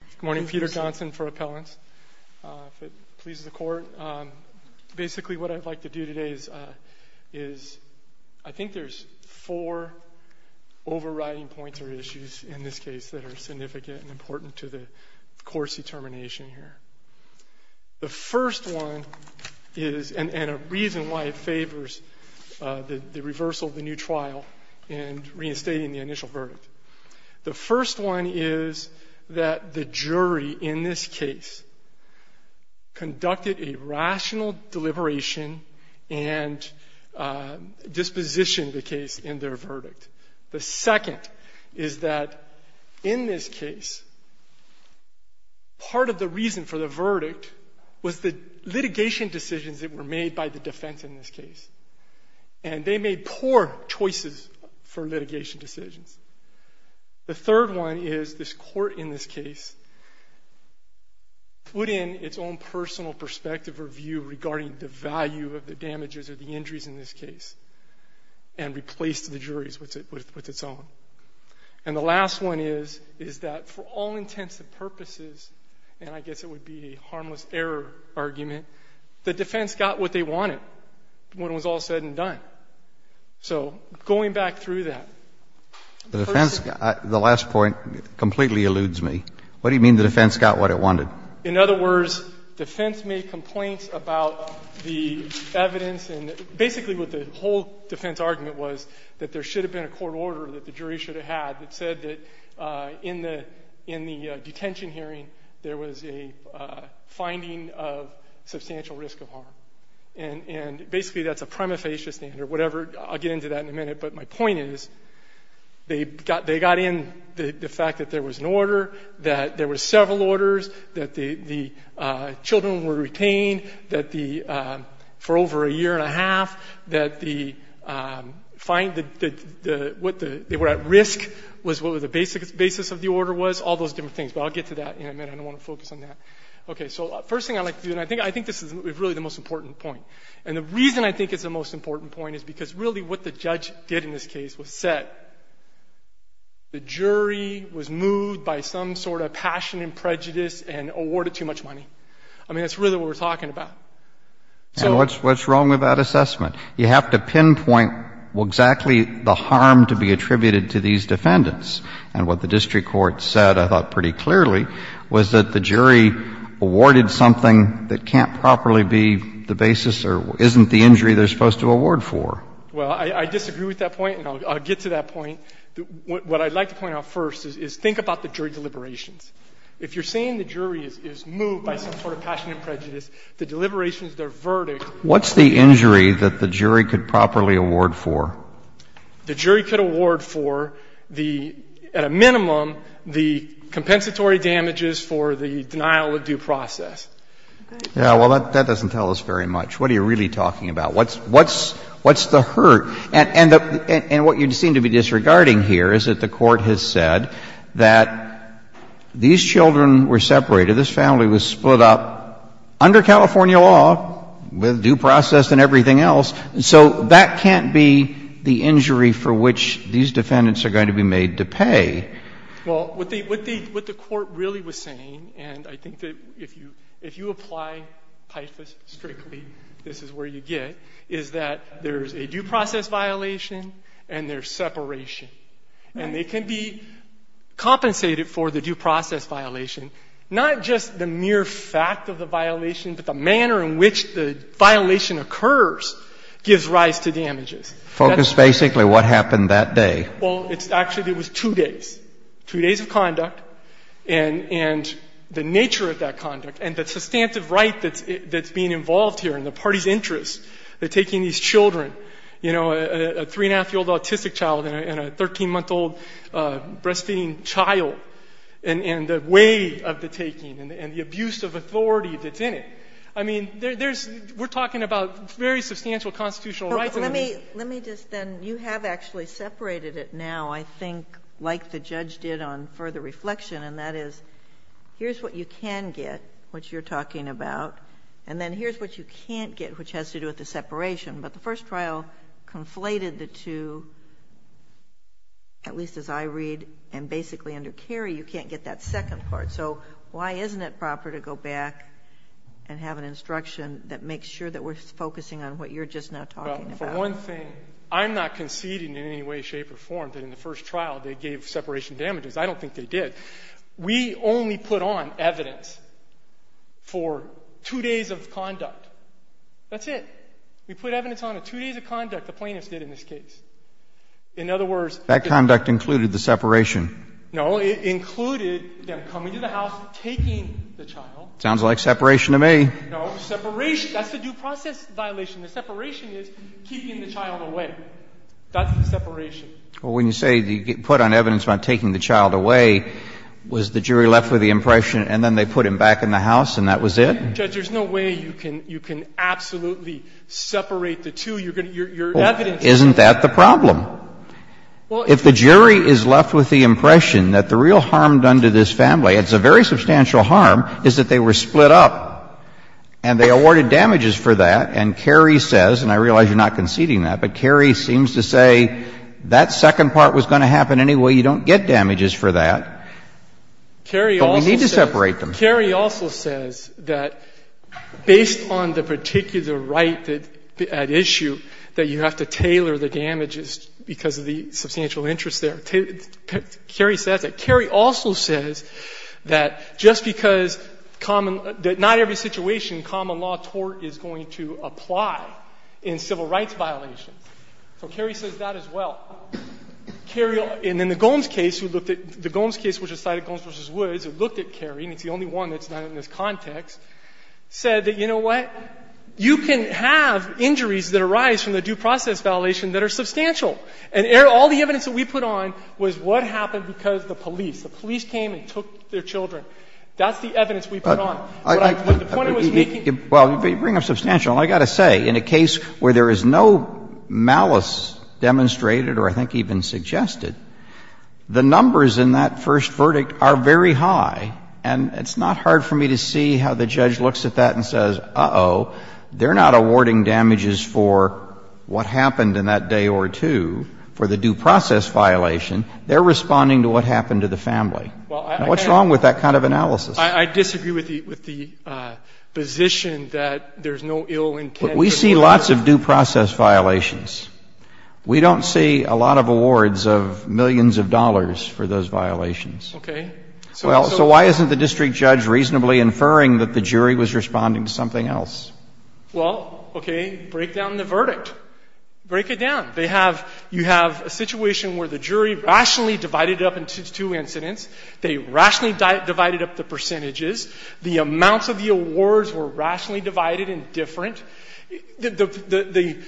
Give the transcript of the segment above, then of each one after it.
Good morning, Peter Johnson for Appellants. If it pleases the court, basically what I'd like to do today is, I think there's four overriding points or issues in this case that are significant and important to the court's determination here. The first one is, and a reason why it favors the reversal of the new trial and reinstating the initial verdict. The first one is that the jury in this case conducted a rational deliberation and dispositioned the case in their verdict. The second is that in this case, part of the reason for the verdict was the litigation decisions that were made by the defense in this case. And they made poor choices for litigation decisions. The third one is this court in this case put in its own personal perspective review regarding the value of the damages or the injuries in this case and replaced the juries with its own. And the last one is, is that for all intents and purposes, and I guess it would be a harmless error argument, the defense got what they wanted when it was all said and done. So going back through that. The defense, the last point completely eludes me. What do you mean the defense got what it wanted? In other words, defense made complaints about the evidence and basically what the whole defense argument was, that there should have been a court order that the jury should have had that said that in the detention hearing there was a finding of substantial risk of harm. And basically that's a prima facie standard, whatever. I'll get into that in a minute. But my point is they got in the fact that there was an order, that there were several orders, that the children were retained for over a year and a half, that they were at risk was what the basis of the order was, all those different things. But I'll get to that in a minute. I don't want to focus on that. Okay. So the first thing I'd like to do, and I think this is really the most important point, and the reason I think it's the most important point is because really what the judge did in this case was said, the jury was moved by some sort of passion and prejudice and awarded too much money. I mean, that's really what we're talking about. So — And what's wrong with that assessment? You have to pinpoint exactly the harm to be attributed to these defendants. And what the district court said, I thought pretty clearly, was that the jury awarded something that can't properly be the basis or isn't the injury they're supposed to award for. Well, I disagree with that point, and I'll get to that point. What I'd like to point out first is think about the jury deliberations. If you're saying the jury is moved by some sort of passion and prejudice, the deliberations, their verdict — What's the injury that the jury could properly award for? The jury could award for the, at a minimum, the compensatory damages for the denial of due process. Yeah. Well, that doesn't tell us very much. What are you really talking about? What's the hurt? And what you seem to be disregarding here is that the Court has said that these children were separated, this family was split up under California law with due process and everything else. So that can't be the injury for which these defendants are going to be made to pay. Well, what the Court really was saying, and I think that if you apply PIFAS strictly, this is where you get, is that there's a due process violation and there's separation. And they can be compensated for the due process violation, not just the mere fact of the damages. Focus basically what happened that day. Well, it's actually, it was two days, two days of conduct. And the nature of that conduct and the substantive right that's being involved here in the party's interest in taking these children, you know, a three-and-a-half-year-old autistic child and a 13-month-old breastfeeding child, and the way of the taking and the abuse of authority that's in it. I mean, there's, we're talking about very substantial constitutional rights. Let me, let me just then, you have actually separated it now, I think, like the judge did on further reflection, and that is, here's what you can get, which you're talking about, and then here's what you can't get, which has to do with the separation. But the first trial conflated the two, at least as I read and basically under Kerry, you can't get that second part. So why isn't it proper to go back and have an instruction that makes sure that we're focusing on what you're just now talking about? Well, for one thing, I'm not conceding in any way, shape, or form that in the first trial they gave separation damages. I don't think they did. We only put on evidence for two days of conduct. That's it. We put evidence on the two days of conduct the plaintiffs did in this case. In other words, That conduct included the separation. No. It included them coming to the house, taking the child. Sounds like separation to me. No. Separation. That's the due process violation. The separation is keeping the child away. That's the separation. Well, when you say you put on evidence about taking the child away, was the jury left with the impression and then they put him back in the house and that was it? Judge, there's no way you can absolutely separate the two. You're going to, your evidence is Well, isn't that the problem? If the jury is left with the impression that the real harm done to this family, it's a very substantial harm, is that they were split up and they awarded damages for that, and Kerry says, and I realize you're not conceding that, but Kerry seems to say that second part was going to happen anyway. You don't get damages for that. But we need to separate them. Kerry also says that based on the particular right at issue, that you have to tailor the damages because of the substantial interest there. Kerry says that. Kerry also says that just because common, that not every situation common law tort is going to apply in civil rights violations. So Kerry says that as well. Kerry, and in the Gomes case, who looked at, the Gomes case which was cited, Gomes v. Woods, who looked at Kerry, and it's the only one that's done it in this context, said that, you know what, you can have injuries that arise from the due process violation that are substantial. And all the evidence that we put on was what happened because the police, the police came and took their children. That's the evidence we put on. But the point I was making. Well, you bring up substantial, and I've got to say, in a case where there is no malice demonstrated or I think even suggested, the numbers in that first verdict are very high, and it's not hard for me to see how the judge looks at that and says, uh-oh, they're not awarding damages for what happened in that day or two for the due process violation. They're responding to what happened to the family. What's wrong with that kind of analysis? I disagree with the position that there's no ill intent. But we see lots of due process violations. We don't see a lot of awards of millions of dollars for those violations. Okay. So why isn't the district judge reasonably inferring that the jury was responding to something else? Well, okay, break down the verdict. Break it down. They have, you have a situation where the jury rationally divided it up into two incidents. They rationally divided up the percentages. The amounts of the awards were rationally divided and different. The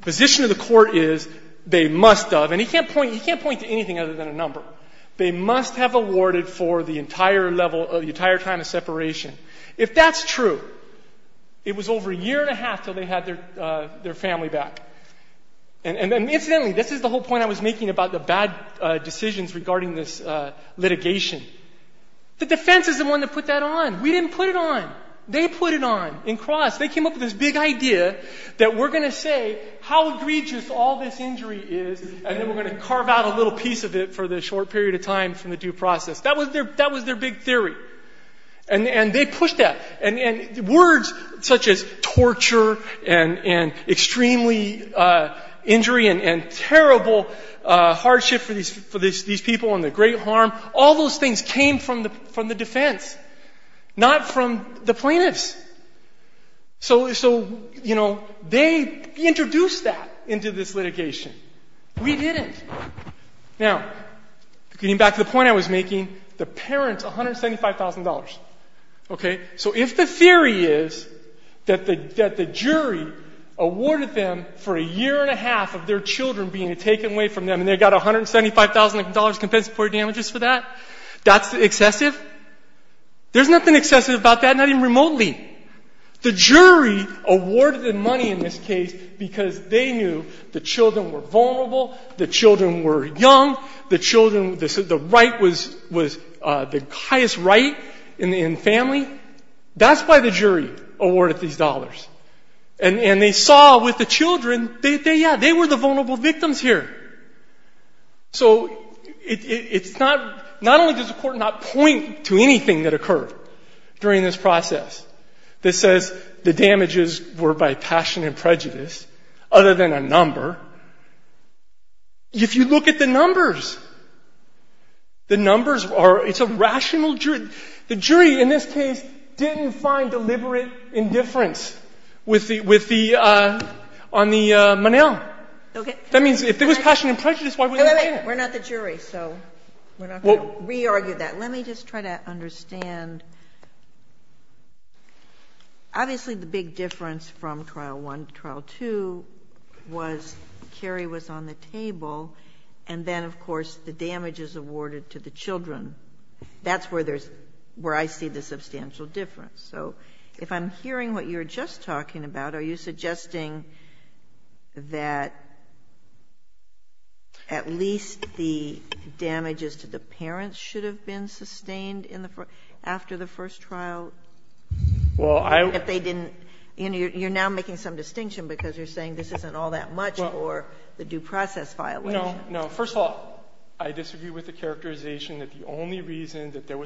position of the court is they must have, and he can't point to anything other than a number. They must have awarded for the entire level, the entire time of separation. If that's true, it was over a year and a half until they had their family back. And incidentally, this is the whole point I was making about the bad decisions regarding this litigation. The defense is the one that put that on. We didn't put it on. They put it on. In cross, they came up with this big idea that we're going to say how egregious all this injury is and then we're going to carve out a little piece of it for the short period of time from the due process. That was their big theory. And they pushed that. And words such as torture and extremely injury and terrible hardship for these people and the great harm, all those things came from the defense, not from the plaintiffs. So, you know, they introduced that into this litigation. We didn't. Now, getting back to the point I was making, the parents, $175,000. So if the theory is that the jury awarded them for a year and a half of their children being taken away from them and they got $175,000 in compensatory damages for that, that's excessive? There's nothing excessive about that, not even remotely. The jury awarded them money in this case because they knew the children were vulnerable, the children were young, the children, the right was the highest right in the family. That's why the jury awarded these dollars. And they saw with the children, yeah, they were the vulnerable victims here. So it's not, not only does the court not point to anything that occurred during this process that says the damages were by passion and prejudice other than a number, if you look at the numbers, the numbers are, it's a rational jury. The jury in this case didn't find deliberate indifference with the, with the, on the money. That means if it was passion and prejudice, why would they do it? We're not the jury, so we're not going to re-argue that. Let me just try to understand. Obviously the big difference from Trial 1 to Trial 2 was Carrie was on the table and then, of course, the damages awarded to the children. That's where there's, where I see the substantial difference. So if I'm hearing what you were just talking about, are you suggesting that at least the damages to the parents should have been sustained in the, after the first trial? If they didn't, you know, you're now making some distinction because you're saying this isn't all that much for the due process violation. No, no. First of all, I disagree with the characterization that the only reason that there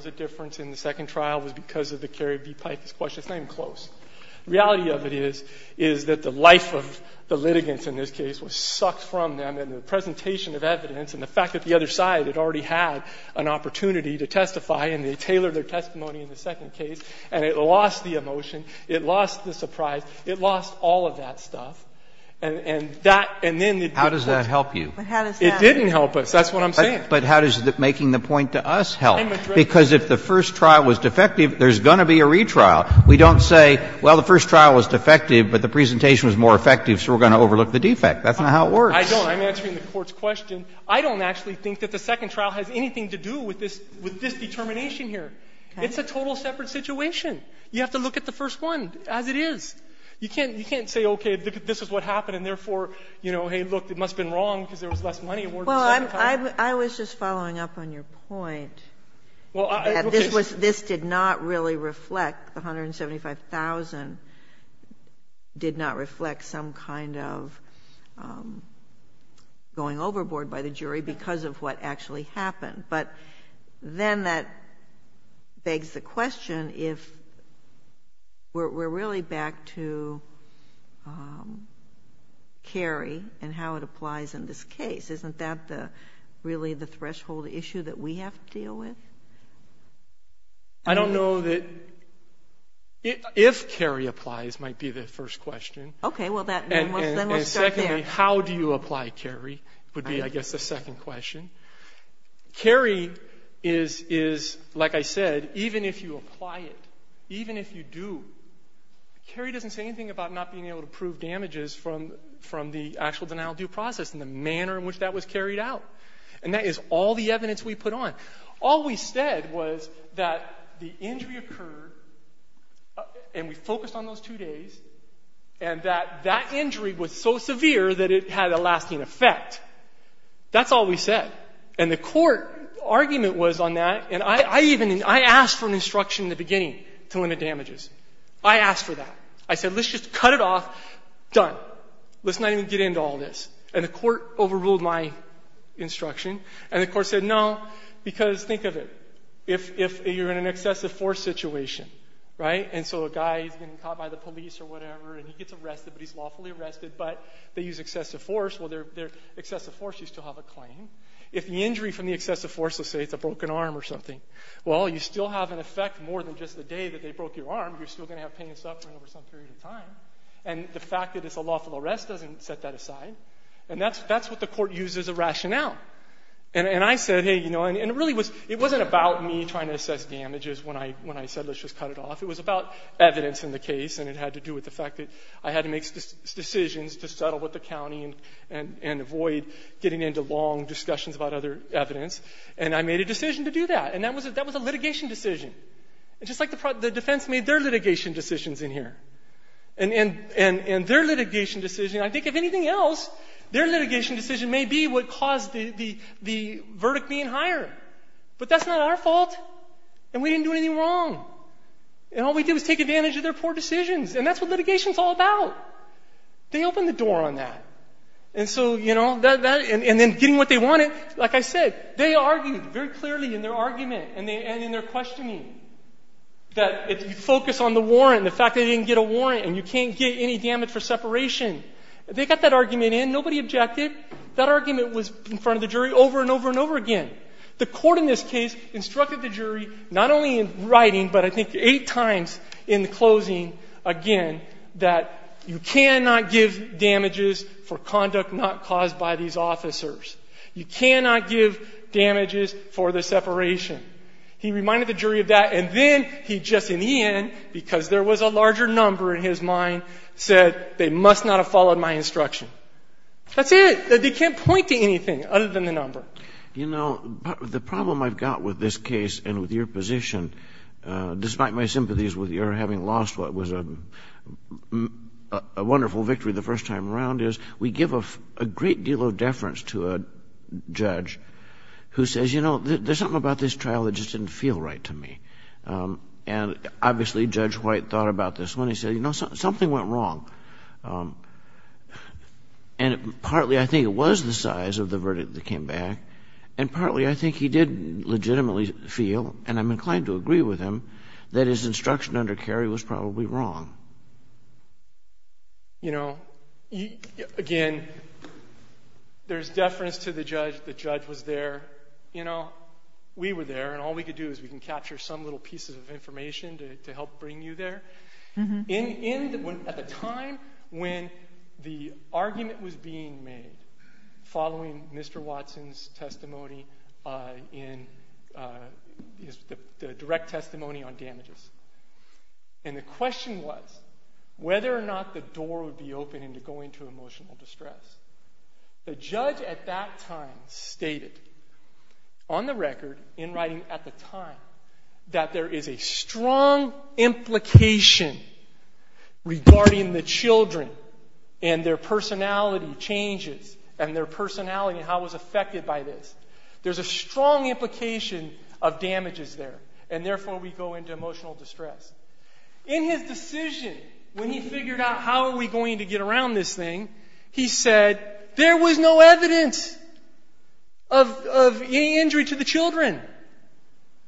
The reality of it is, is that the life of the litigants in this case was sucked from them and the presentation of evidence and the fact that the other side had already had an opportunity to testify and they tailored their testimony in the second case and it lost the emotion. It lost the surprise. It lost all of that stuff. And that, and then the difference. How does that help you? It didn't help us. That's what I'm saying. But how does making the point to us help? Because if the first trial was defective, there's going to be a retrial. We don't say, well, the first trial was defective, but the presentation was more effective, so we're going to overlook the defect. That's not how it works. I don't. I'm answering the Court's question. I don't actually think that the second trial has anything to do with this, with this determination here. It's a total separate situation. You have to look at the first one as it is. You can't, you can't say, okay, this is what happened, and therefore, you know, hey, look, it must have been wrong because there was less money awarded in the second trial. I was just following up on your point that this was, this did not really reflect, the $175,000 did not reflect some kind of going overboard by the jury because of what actually happened. But then that begs the question if we're really back to Cary and how it applies in this case. Isn't that really the threshold issue that we have to deal with? I don't know that if Cary applies might be the first question. Okay. Well, then we'll start there. And secondly, how do you apply, Cary, would be, I guess, the second question. Cary is, like I said, even if you apply it, even if you do, Cary doesn't say anything about not being able to prove damages from the actual denial of due process and the manner in which that was carried out. And that is all the evidence we put on. All we said was that the injury occurred, and we focused on those two days, and that that injury was so severe that it had a lasting effect. That's all we said. And the court argument was on that, and I even, I asked for an instruction in the beginning to limit damages. I asked for that. I said, let's just cut it off, done. Let's not even get into all this. And the court overruled my instruction. And the court said, no, because think of it. If you're in an excessive force situation, right, and so a guy, he's getting caught by the police or whatever, and he gets arrested, but he's lawfully arrested, but they use excessive force, well, excessive force, you still have a claim. If the injury from the excessive force, let's say it's a broken arm or something, well, you still have an effect more than just the day that they broke your arm. You're still going to have pain and suffering over some period of time. And the fact that it's a lawful arrest doesn't set that aside. And that's what the court used as a rationale. And I said, hey, you know, and it really was, it wasn't about me trying to assess damages when I said, let's just cut it off. It was about evidence in the case, and it had to do with the fact that I had to make decisions to settle with the county and avoid getting into long discussions about other evidence, and I made a decision to do that. And that was a litigation decision, just like the defense made their litigation decisions in here. And their litigation decision, I think if anything else, their litigation decision may be what caused the verdict being higher. But that's not our fault. And we didn't do anything wrong. And all we did was take advantage of their poor decisions, and that's what litigation is all about. They opened the door on that. And so, you know, and then getting what they wanted, like I said, they argued very clearly in their argument and in their questioning that if you focus on the warrant, the fact that they didn't get a warrant and you can't get any damage for separation, they got that argument in. Nobody objected. That argument was in front of the jury over and over and over again. The court in this case instructed the jury not only in writing, but I think eight times in the closing, again, that you cannot give damages for conduct not caused by these officers. You cannot give damages for the separation. He reminded the jury of that. And then he just in the end, because there was a larger number in his mind, said they must not have followed my instruction. That's it. They can't point to anything other than the number. You know, the problem I've got with this case and with your position, despite my sympathies with your having lost what was a wonderful victory the first time around, is we give a great deal of deference to a judge who says, you know, there's something about this trial that just didn't feel right to me. And obviously Judge White thought about this when he said, you know, something went wrong. And partly I think it was the size of the verdict that came back, and partly I think he did legitimately feel, and I'm inclined to agree with him, that his instruction under Kerry was probably wrong. You know, again, there's deference to the judge. The judge was there. You know, we were there, and all we could do is we can capture some little pieces of information to help bring you there. At the time when the argument was being made, following Mr. Watson's testimony in the direct testimony on damages. And the question was whether or not the door would be open into going to emotional distress. The judge at that time stated, on the record, in writing at the time, that there is a strong implication regarding the children and their personality changes, and their personality and how it was affected by this. There's a strong implication of damages there, and therefore we go into emotional distress. In his decision, when he figured out how are we going to get around this thing, he said, there was no evidence of any injury to the children.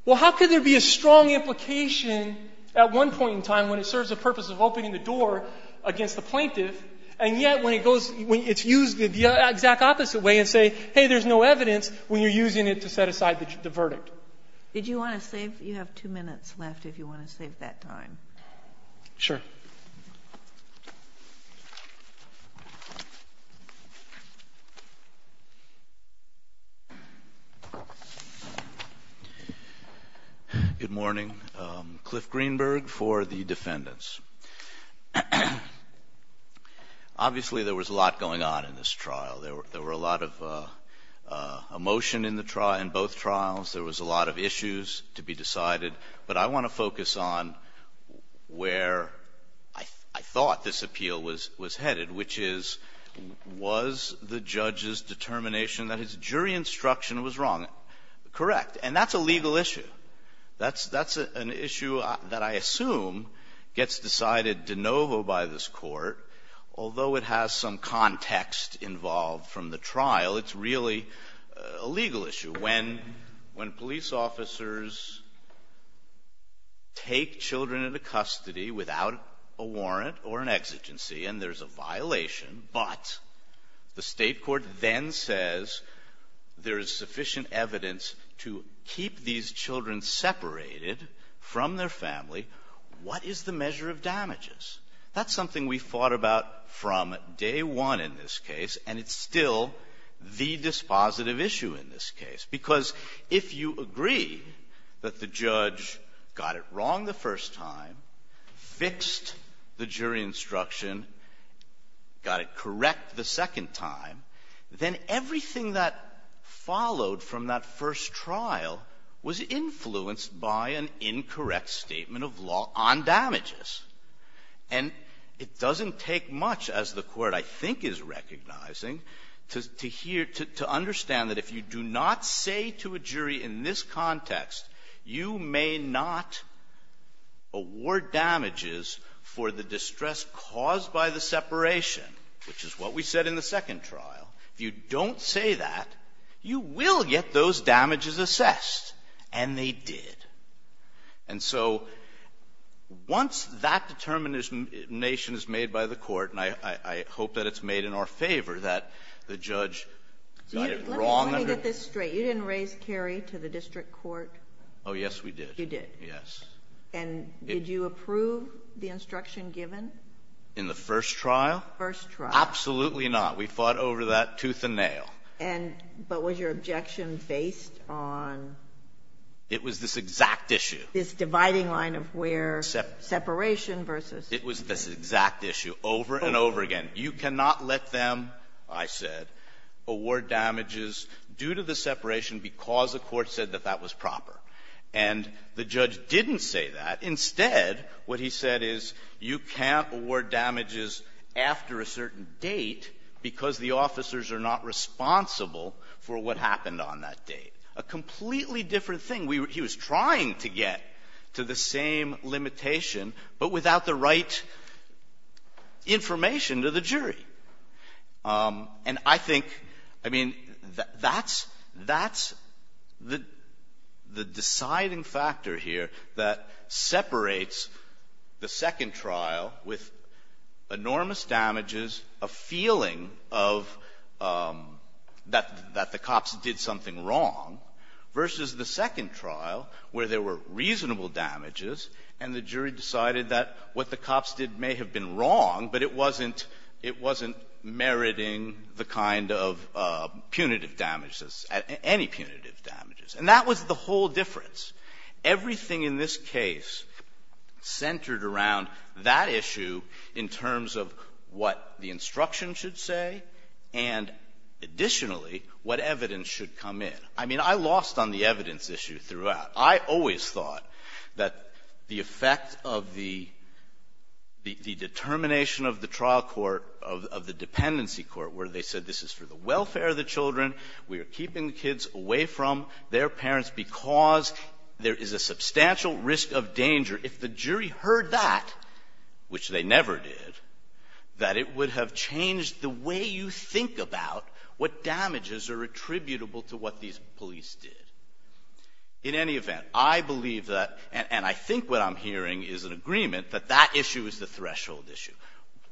Well, how could there be a strong implication at one point in time when it serves the purpose of opening the door against the plaintiff, and yet when it's used the exact opposite way and say, hey, there's no evidence, when you're using it to set aside the verdict? Did you want to save? You have two minutes left if you want to save that time. Sure. Good morning. Cliff Greenberg for the defendants. Obviously, there was a lot going on in this trial. There were a lot of emotion in the trial, in both trials. There was a lot of issues to be decided. But I want to focus on where I thought this appeal was headed, which is, was the judge's determination that his jury instruction was wrong? Correct. And that's a legal issue. That's an issue that I assume gets decided de novo by this Court, although it has some context involved from the trial. It's really a legal issue. When police officers take children into custody without a warrant or an exigency, and there's a violation, but the State court then says there is sufficient evidence to keep these children separated from their family, what is the measure of damages? That's something we fought about from day one in this case, and it's still the dispositive issue in this case. Because if you agree that the judge got it wrong the first time, fixed the jury instruction, got it correct the second time, then everything that followed from that first trial was And it doesn't take much, as the Court I think is recognizing, to hear, to understand that if you do not say to a jury in this context, you may not award damages for the distress caused by the separation, which is what we said in the second trial. If you don't say that, you will get those damages assessed, and they did. And so once that determination is made by the Court, and I hope that it's made in our favor that the judge got it wrong. Let me get this straight. You didn't raise Kerry to the district court? Oh, yes, we did. You did? Yes. And did you approve the instruction given? In the first trial? First trial. Absolutely not. We fought over that tooth and nail. But was your objection based on It was this exact issue. This dividing line of where separation versus It was this exact issue over and over again. You cannot let them, I said, award damages due to the separation because the Court said that that was proper. And the judge didn't say that. Instead, what he said is you can't award damages after a certain date because the officers are not responsible for what happened on that date. A completely different thing. He was trying to get to the same limitation, but without the right information to the jury. And I think, I mean, that's, that's the deciding factor here that separates the second trial with enormous damages, a feeling of that the cops did something wrong, versus the second trial where there were reasonable damages and the jury decided that what the cops did may have been wrong, but it wasn't meriting the kind of punitive damages, any punitive damages. And that was the whole difference. Everything in this case centered around that issue in terms of what the instruction should say and, additionally, what evidence should come in. I mean, I lost on the evidence issue throughout. I always thought that the effect of the determination of the trial court, of the dependency court, where they said this is for the welfare of the children, we are keeping the kids away from their parents because there is a substantial risk of danger. If the jury heard that, which they never did, that it would have changed the way you think about what damages are attributable to what these police did. In any event, I believe that, and I think what I'm hearing is an agreement, that that issue is the threshold issue.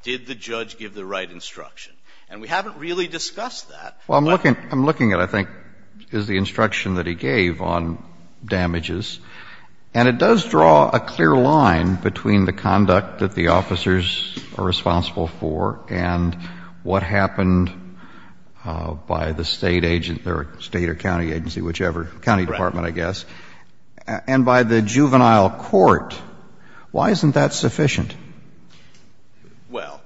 Did the judge give the right instruction? And we haven't really discussed that. Well, I'm looking at, I think, is the instruction that he gave on damages. And it does draw a clear line between the conduct that the officers are responsible for and what happened by the State agent or State or county agency, whichever, county department, I guess, and by the juvenile court. Why isn't that sufficient? Well,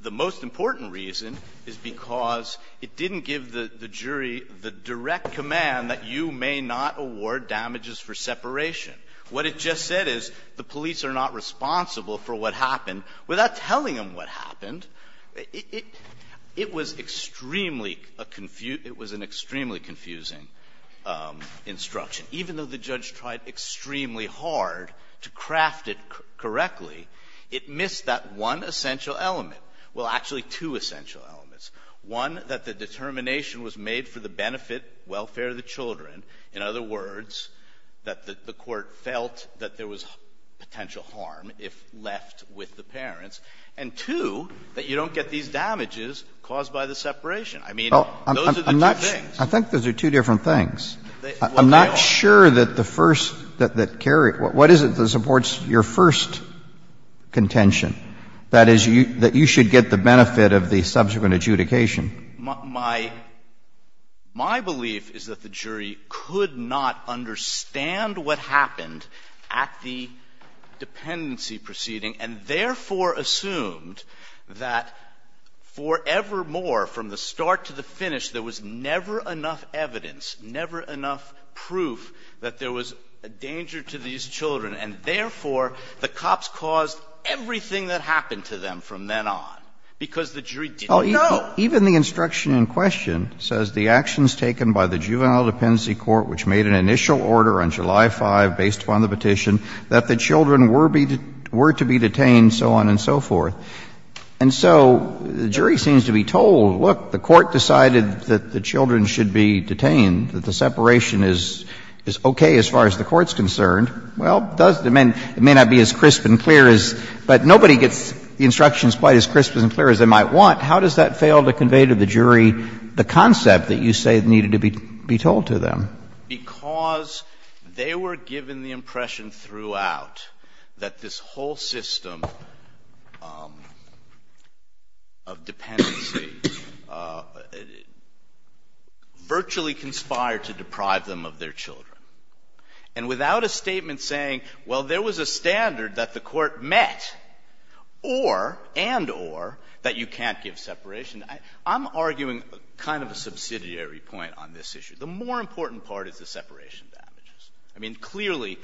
the most important reason is because it didn't give the jury the direct command that you may not award damages for separation. What it just said is the police are not responsible for what happened. Without telling them what happened, it was extremely a confuse – it was an extremely confusing instruction. Even though the judge tried extremely hard to craft it correctly, it missed that one essential element. Well, actually, two essential elements. One, that the determination was made for the benefit, welfare of the children. In other words, that the court felt that there was potential harm if left with the parents. And two, that you don't get these damages caused by the separation. I mean, those are the two things. I think those are two different things. I'm not sure that the first, that carries – what is it that supports your first contention? That is, that you should get the benefit of the subsequent adjudication. My – my belief is that the jury could not understand what happened at the dependency proceeding and therefore assumed that forevermore, from the start to the finish, there was never enough evidence, never enough proof that there was a danger to these And that's the thing that happened to them from then on, because the jury didn't know. No. Even the instruction in question says the actions taken by the Juvenile Dependency Court, which made an initial order on July 5 based upon the petition, that the children were to be detained, so on and so forth. And so the jury seems to be told, look, the court decided that the children should be detained, that the separation is okay as far as the court's concerned. Well, it does – I mean, it may not be as crisp and clear as – but nobody gets the instructions quite as crisp and clear as they might want. How does that fail to convey to the jury the concept that you say needed to be told to them? Because they were given the impression throughout that this whole system of dependency on the children, that they were to be virtually conspired to deprive them of their children, and without a statement saying, well, there was a standard that the court met, or, and or, that you can't give separation. I'm arguing kind of a subsidiary point on this issue. The more important part is the separation damages. I mean, clearly,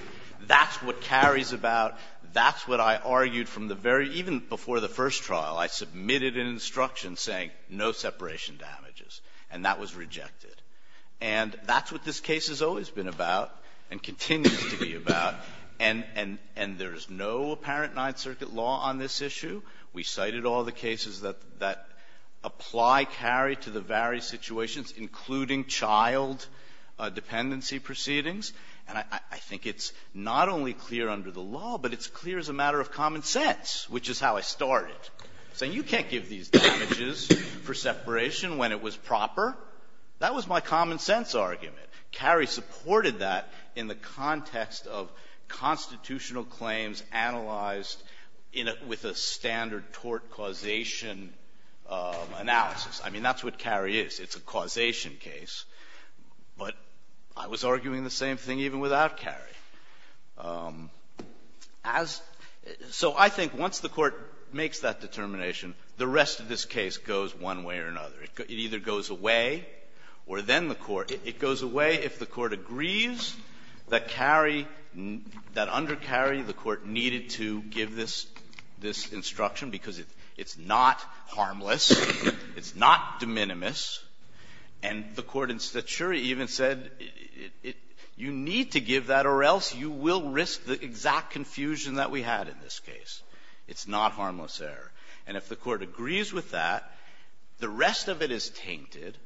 that's what carries about, that's what I argued from the very – even before the first trial. I submitted an instruction saying no separation damages, and that was rejected. And that's what this case has always been about and continues to be about. And there is no apparent Ninth Circuit law on this issue. We cited all the cases that apply, carry to the various situations, including child dependency proceedings. And I think it's not only clear under the law, but it's clear as a matter of common sense, which is how I started, saying you can't give these damages for separation when it was proper. That was my common sense argument. Cary supported that in the context of constitutional claims analyzed in a – with a standard tort causation analysis. I mean, that's what Cary is. It's a causation case. But I was arguing the same thing even without Cary. As – so I think once the Court makes that determination, the rest of this case goes one way or another. It either goes away or then the Court – it goes away if the Court agrees that Cary – that under Cary the Court needed to give this instruction because it's not harmless, it's not de minimis. And the Court in Stature even said you need to give that or else you will risk the exact confusion that we had in this case. It's not harmless error. And if the Court agrees with that, the rest of it is tainted.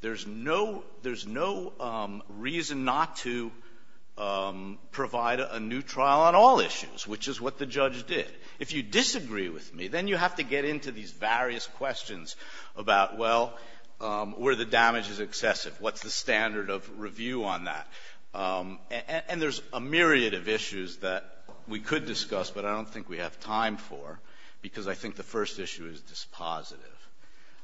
There's no – there's no reason not to provide a new trial on all issues, which is what the judge did. If you disagree with me, then you have to get into these various questions about, well, where the damage is excessive. What's the standard of review on that? And there's a myriad of issues that we could discuss, but I don't think we have time for because I think the first issue is dispositive.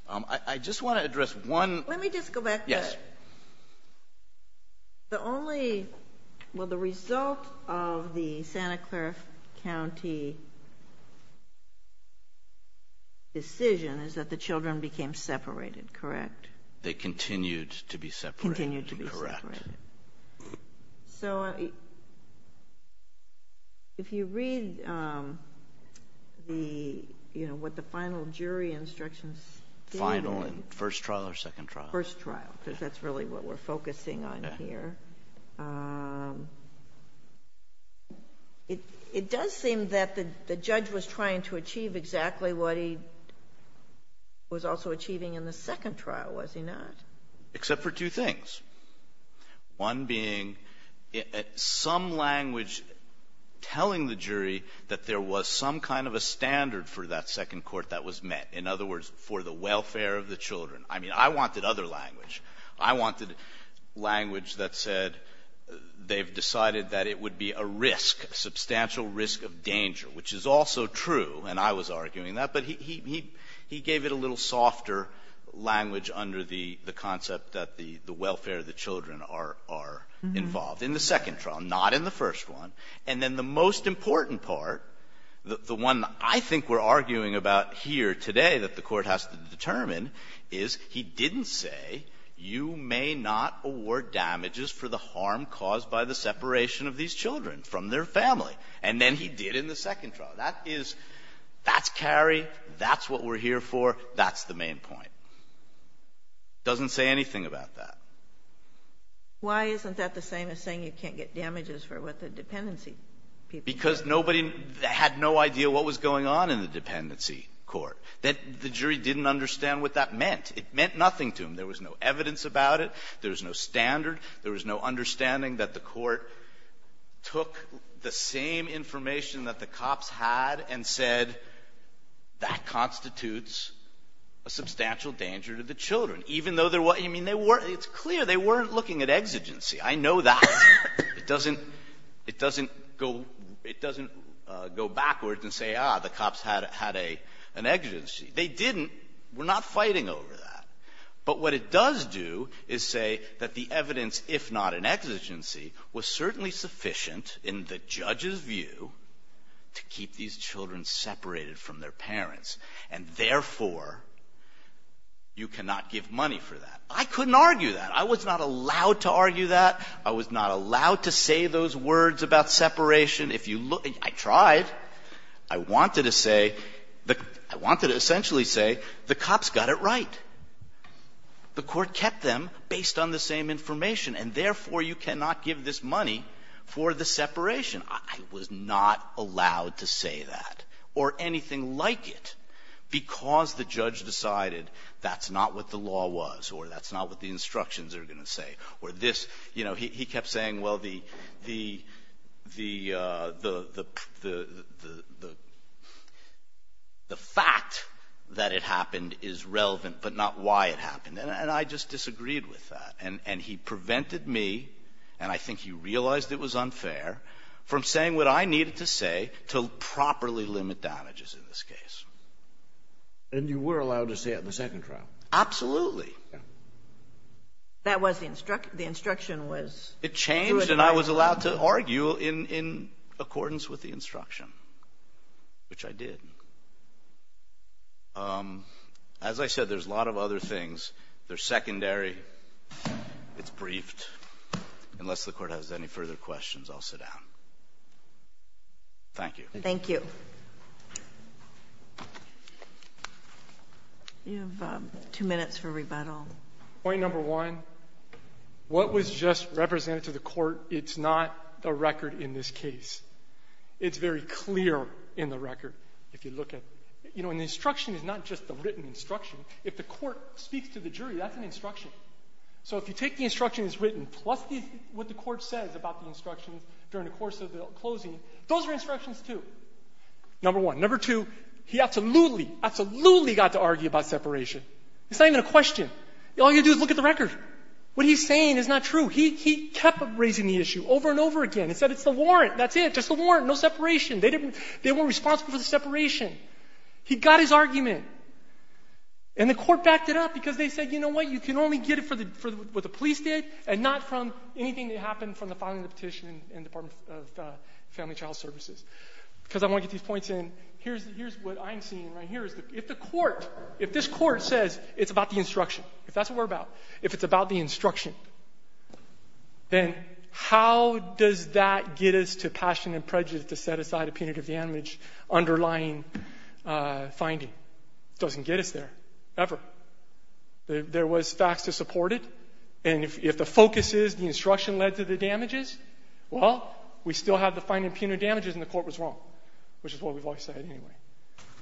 I just want to address one – Let me just go back to – Yes. The only – well, the result of the Santa Clara County decision is that the children became separated, correct? They continued to be separated. Continued to be separated. Correct. So if you read the – you know, what the final jury instructions stated – Final in first trial or second trial? First trial because that's really what we're focusing on here. It does seem that the judge was trying to achieve exactly what he was also achieving in the second trial, was he not? Except for two things. One being some language telling the jury that there was some kind of a standard for that second court that was met. In other words, for the welfare of the children. I mean, I wanted other language. I wanted language that said they've decided that it would be a risk, a substantial risk of danger, which is also true, and I was arguing that, but he gave it a little softer language under the concept that the welfare of the children are involved in the second trial, not in the first one. And then the most important part, the one I think we're arguing about here today that the Court has to determine is he didn't say you may not award damages for the harm caused by the separation of these children from their family. And then he did in the second trial. That is – that's Carrie. That's what we're here for. That's the main point. It doesn't say anything about that. Why isn't that the same as saying you can't get damages for what the dependency people did? Because nobody had no idea what was going on in the dependency court. The jury didn't understand what that meant. It meant nothing to them. There was no evidence about it. There was no standard. There was no understanding that the Court took the same information that the cops had and said that constitutes a substantial danger to the children, even though they're – I mean, they weren't – it's clear they weren't looking at exigency. I know that. It doesn't – it doesn't go – it doesn't go backwards and say, ah, the cops had an exigency. They didn't. We're not fighting over that. But what it does do is say that the evidence, if not an exigency, was certainly sufficient in the judge's view to keep these children separated from their parents, and therefore you cannot give money for that. I couldn't argue that. I was not allowed to argue that. I was not allowed to say those words about separation. If you look – I tried. I wanted to say – I wanted to essentially say the cops got it right. The Court kept them based on the same information, and therefore you cannot give this money for the separation. I was not allowed to say that, or anything like it, because the judge decided that's not what the law was or that's not what the instructions are going to say or this – you know, he kept saying, well, the – the fact that it happened is relevant, but not why it happened. And I just disagreed with that. And he prevented me – and I think he realized it was unfair – from saying what I needed to say to properly limit damages in this case. And you were allowed to say it in the second trial? Absolutely. That was the – the instruction was – It changed, and I was allowed to argue in accordance with the instruction, which I did. As I said, there's a lot of other things. They're secondary. It's briefed. Unless the Court has any further questions, I'll sit down. Thank you. Thank you. You have two minutes for rebuttal. Point number one, what was just represented to the Court, it's not the record in this case. It's very clear in the record, if you look at – you know, and the instruction is not just the written instruction. If the Court speaks to the jury, that's an instruction. So if you take the instructions written plus what the Court says about the instructions during the course of the closing, those are instructions, too. Number one. Number two, he absolutely, absolutely got to argue about separation. It's not even a question. All you do is look at the record. What he's saying is not true. He kept raising the issue over and over again. He said it's the warrant. That's it. Just the warrant. No separation. They weren't responsible for the separation. He got his argument, and the Court backed it up because they said, you know what, you can only get it for what the police did and not from anything that happened from the filing of the petition in the Department of Family and Child Services. Because I want to get these points in. Here's what I'm seeing right here. If the Court, if this Court says it's about the instruction, if that's what we're about, if it's about the instruction, then how does that get us to passion and prejudice to set aside a punitive damage underlying finding? It doesn't get us there, ever. There was facts to support it. And if the focus is the instruction led to the damages, well, we still have the finding of punitive damages, and the Court was wrong, which is what we've always said anyway.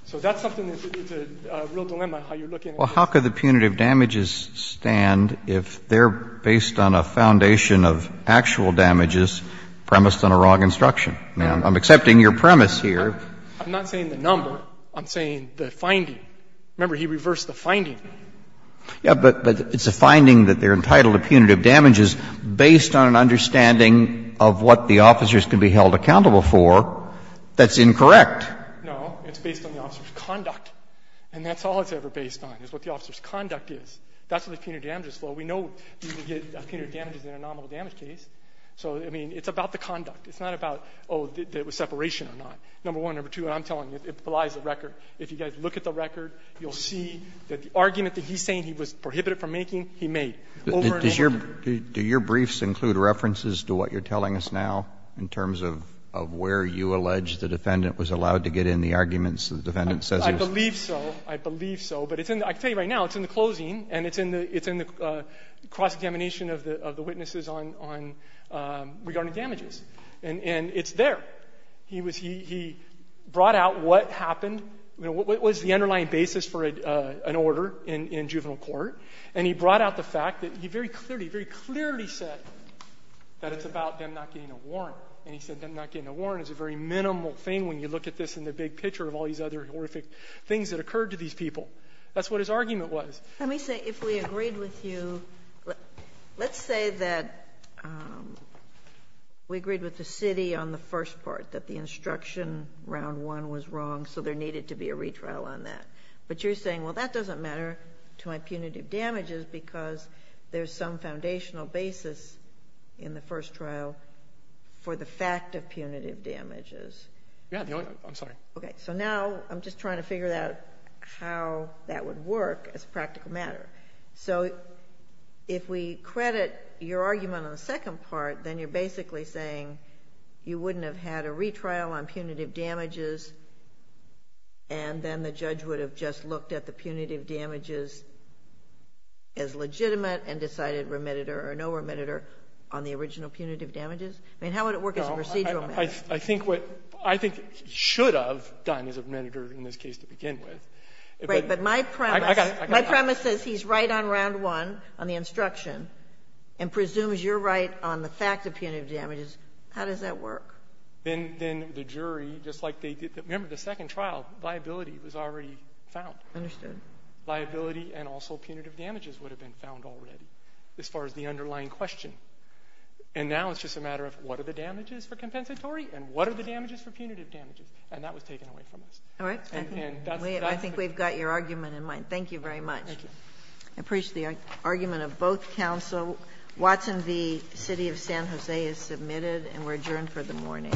So that's something that's a real dilemma, how you're looking at this. Well, how could the punitive damages stand if they're based on a foundation of actual damages premised on a wrong instruction? I'm accepting your premise here. I'm not saying the number. I'm saying the finding. Remember, he reversed the finding. Yeah, but it's a finding that they're entitled to punitive damages based on an understanding of what the officers can be held accountable for. That's incorrect. No. It's based on the officer's conduct. And that's all it's ever based on, is what the officer's conduct is. That's what the punitive damages flow. We know you can get punitive damages in a nominal damage case. So, I mean, it's about the conduct. It's not about, oh, it was separation or not. Number one, number two, I'm telling you, it belies the record. If you guys look at the record, you'll see that the argument that he's saying he was prohibited from making, he made over and over again. Do your briefs include references to what you're telling us now in terms of where you allege the defendant was allowed to get in the arguments the defendant says he was? I believe so. I believe so. But I can tell you right now, it's in the closing, and it's in the cross-examination of the witnesses on regarding damages. And it's there. He brought out what happened, what was the underlying basis for an order in juvenile court, and he brought out the fact that he very clearly, very clearly said that it's about them not getting a warrant. And he said them not getting a warrant is a very minimal thing when you look at this in the big picture of all these other horrific things that occurred to these people. That's what his argument was. Let me say, if we agreed with you, let's say that we agreed with the city on the first part, that the instruction round one was wrong, so there needed to be a retrial on that. But you're saying, well, that doesn't matter to my punitive damages, because there's some foundational basis in the first trial for the fact of punitive damages. Yeah. I'm sorry. Okay. So now I'm just trying to figure out how that would work as a practical matter. So if we credit your argument on the second part, then you're basically saying you wouldn't have had a retrial on punitive damages, and then the judge would have just looked at the punitive damages as legitimate and decided remitted or no remitted on the original punitive damages? I mean, how would it work as a procedural matter? I think he should have done as a remitter in this case to begin with. Right. But my premise says he's right on round one, on the instruction, and presumes you're right on the fact of punitive damages. How does that work? Then the jury, just like they did the second trial, viability was already found. Understood. Viability and also punitive damages would have been found already as far as the underlying question. And now it's just a matter of what are the damages for compensatory and what are the damages for punitive damages? And that was taken away from us. All right. I think we've got your argument in mind. Thank you very much. Thank you. I appreciate the argument of both counsel. Watson v. City of San Jose is submitted, and we're adjourned for the morning.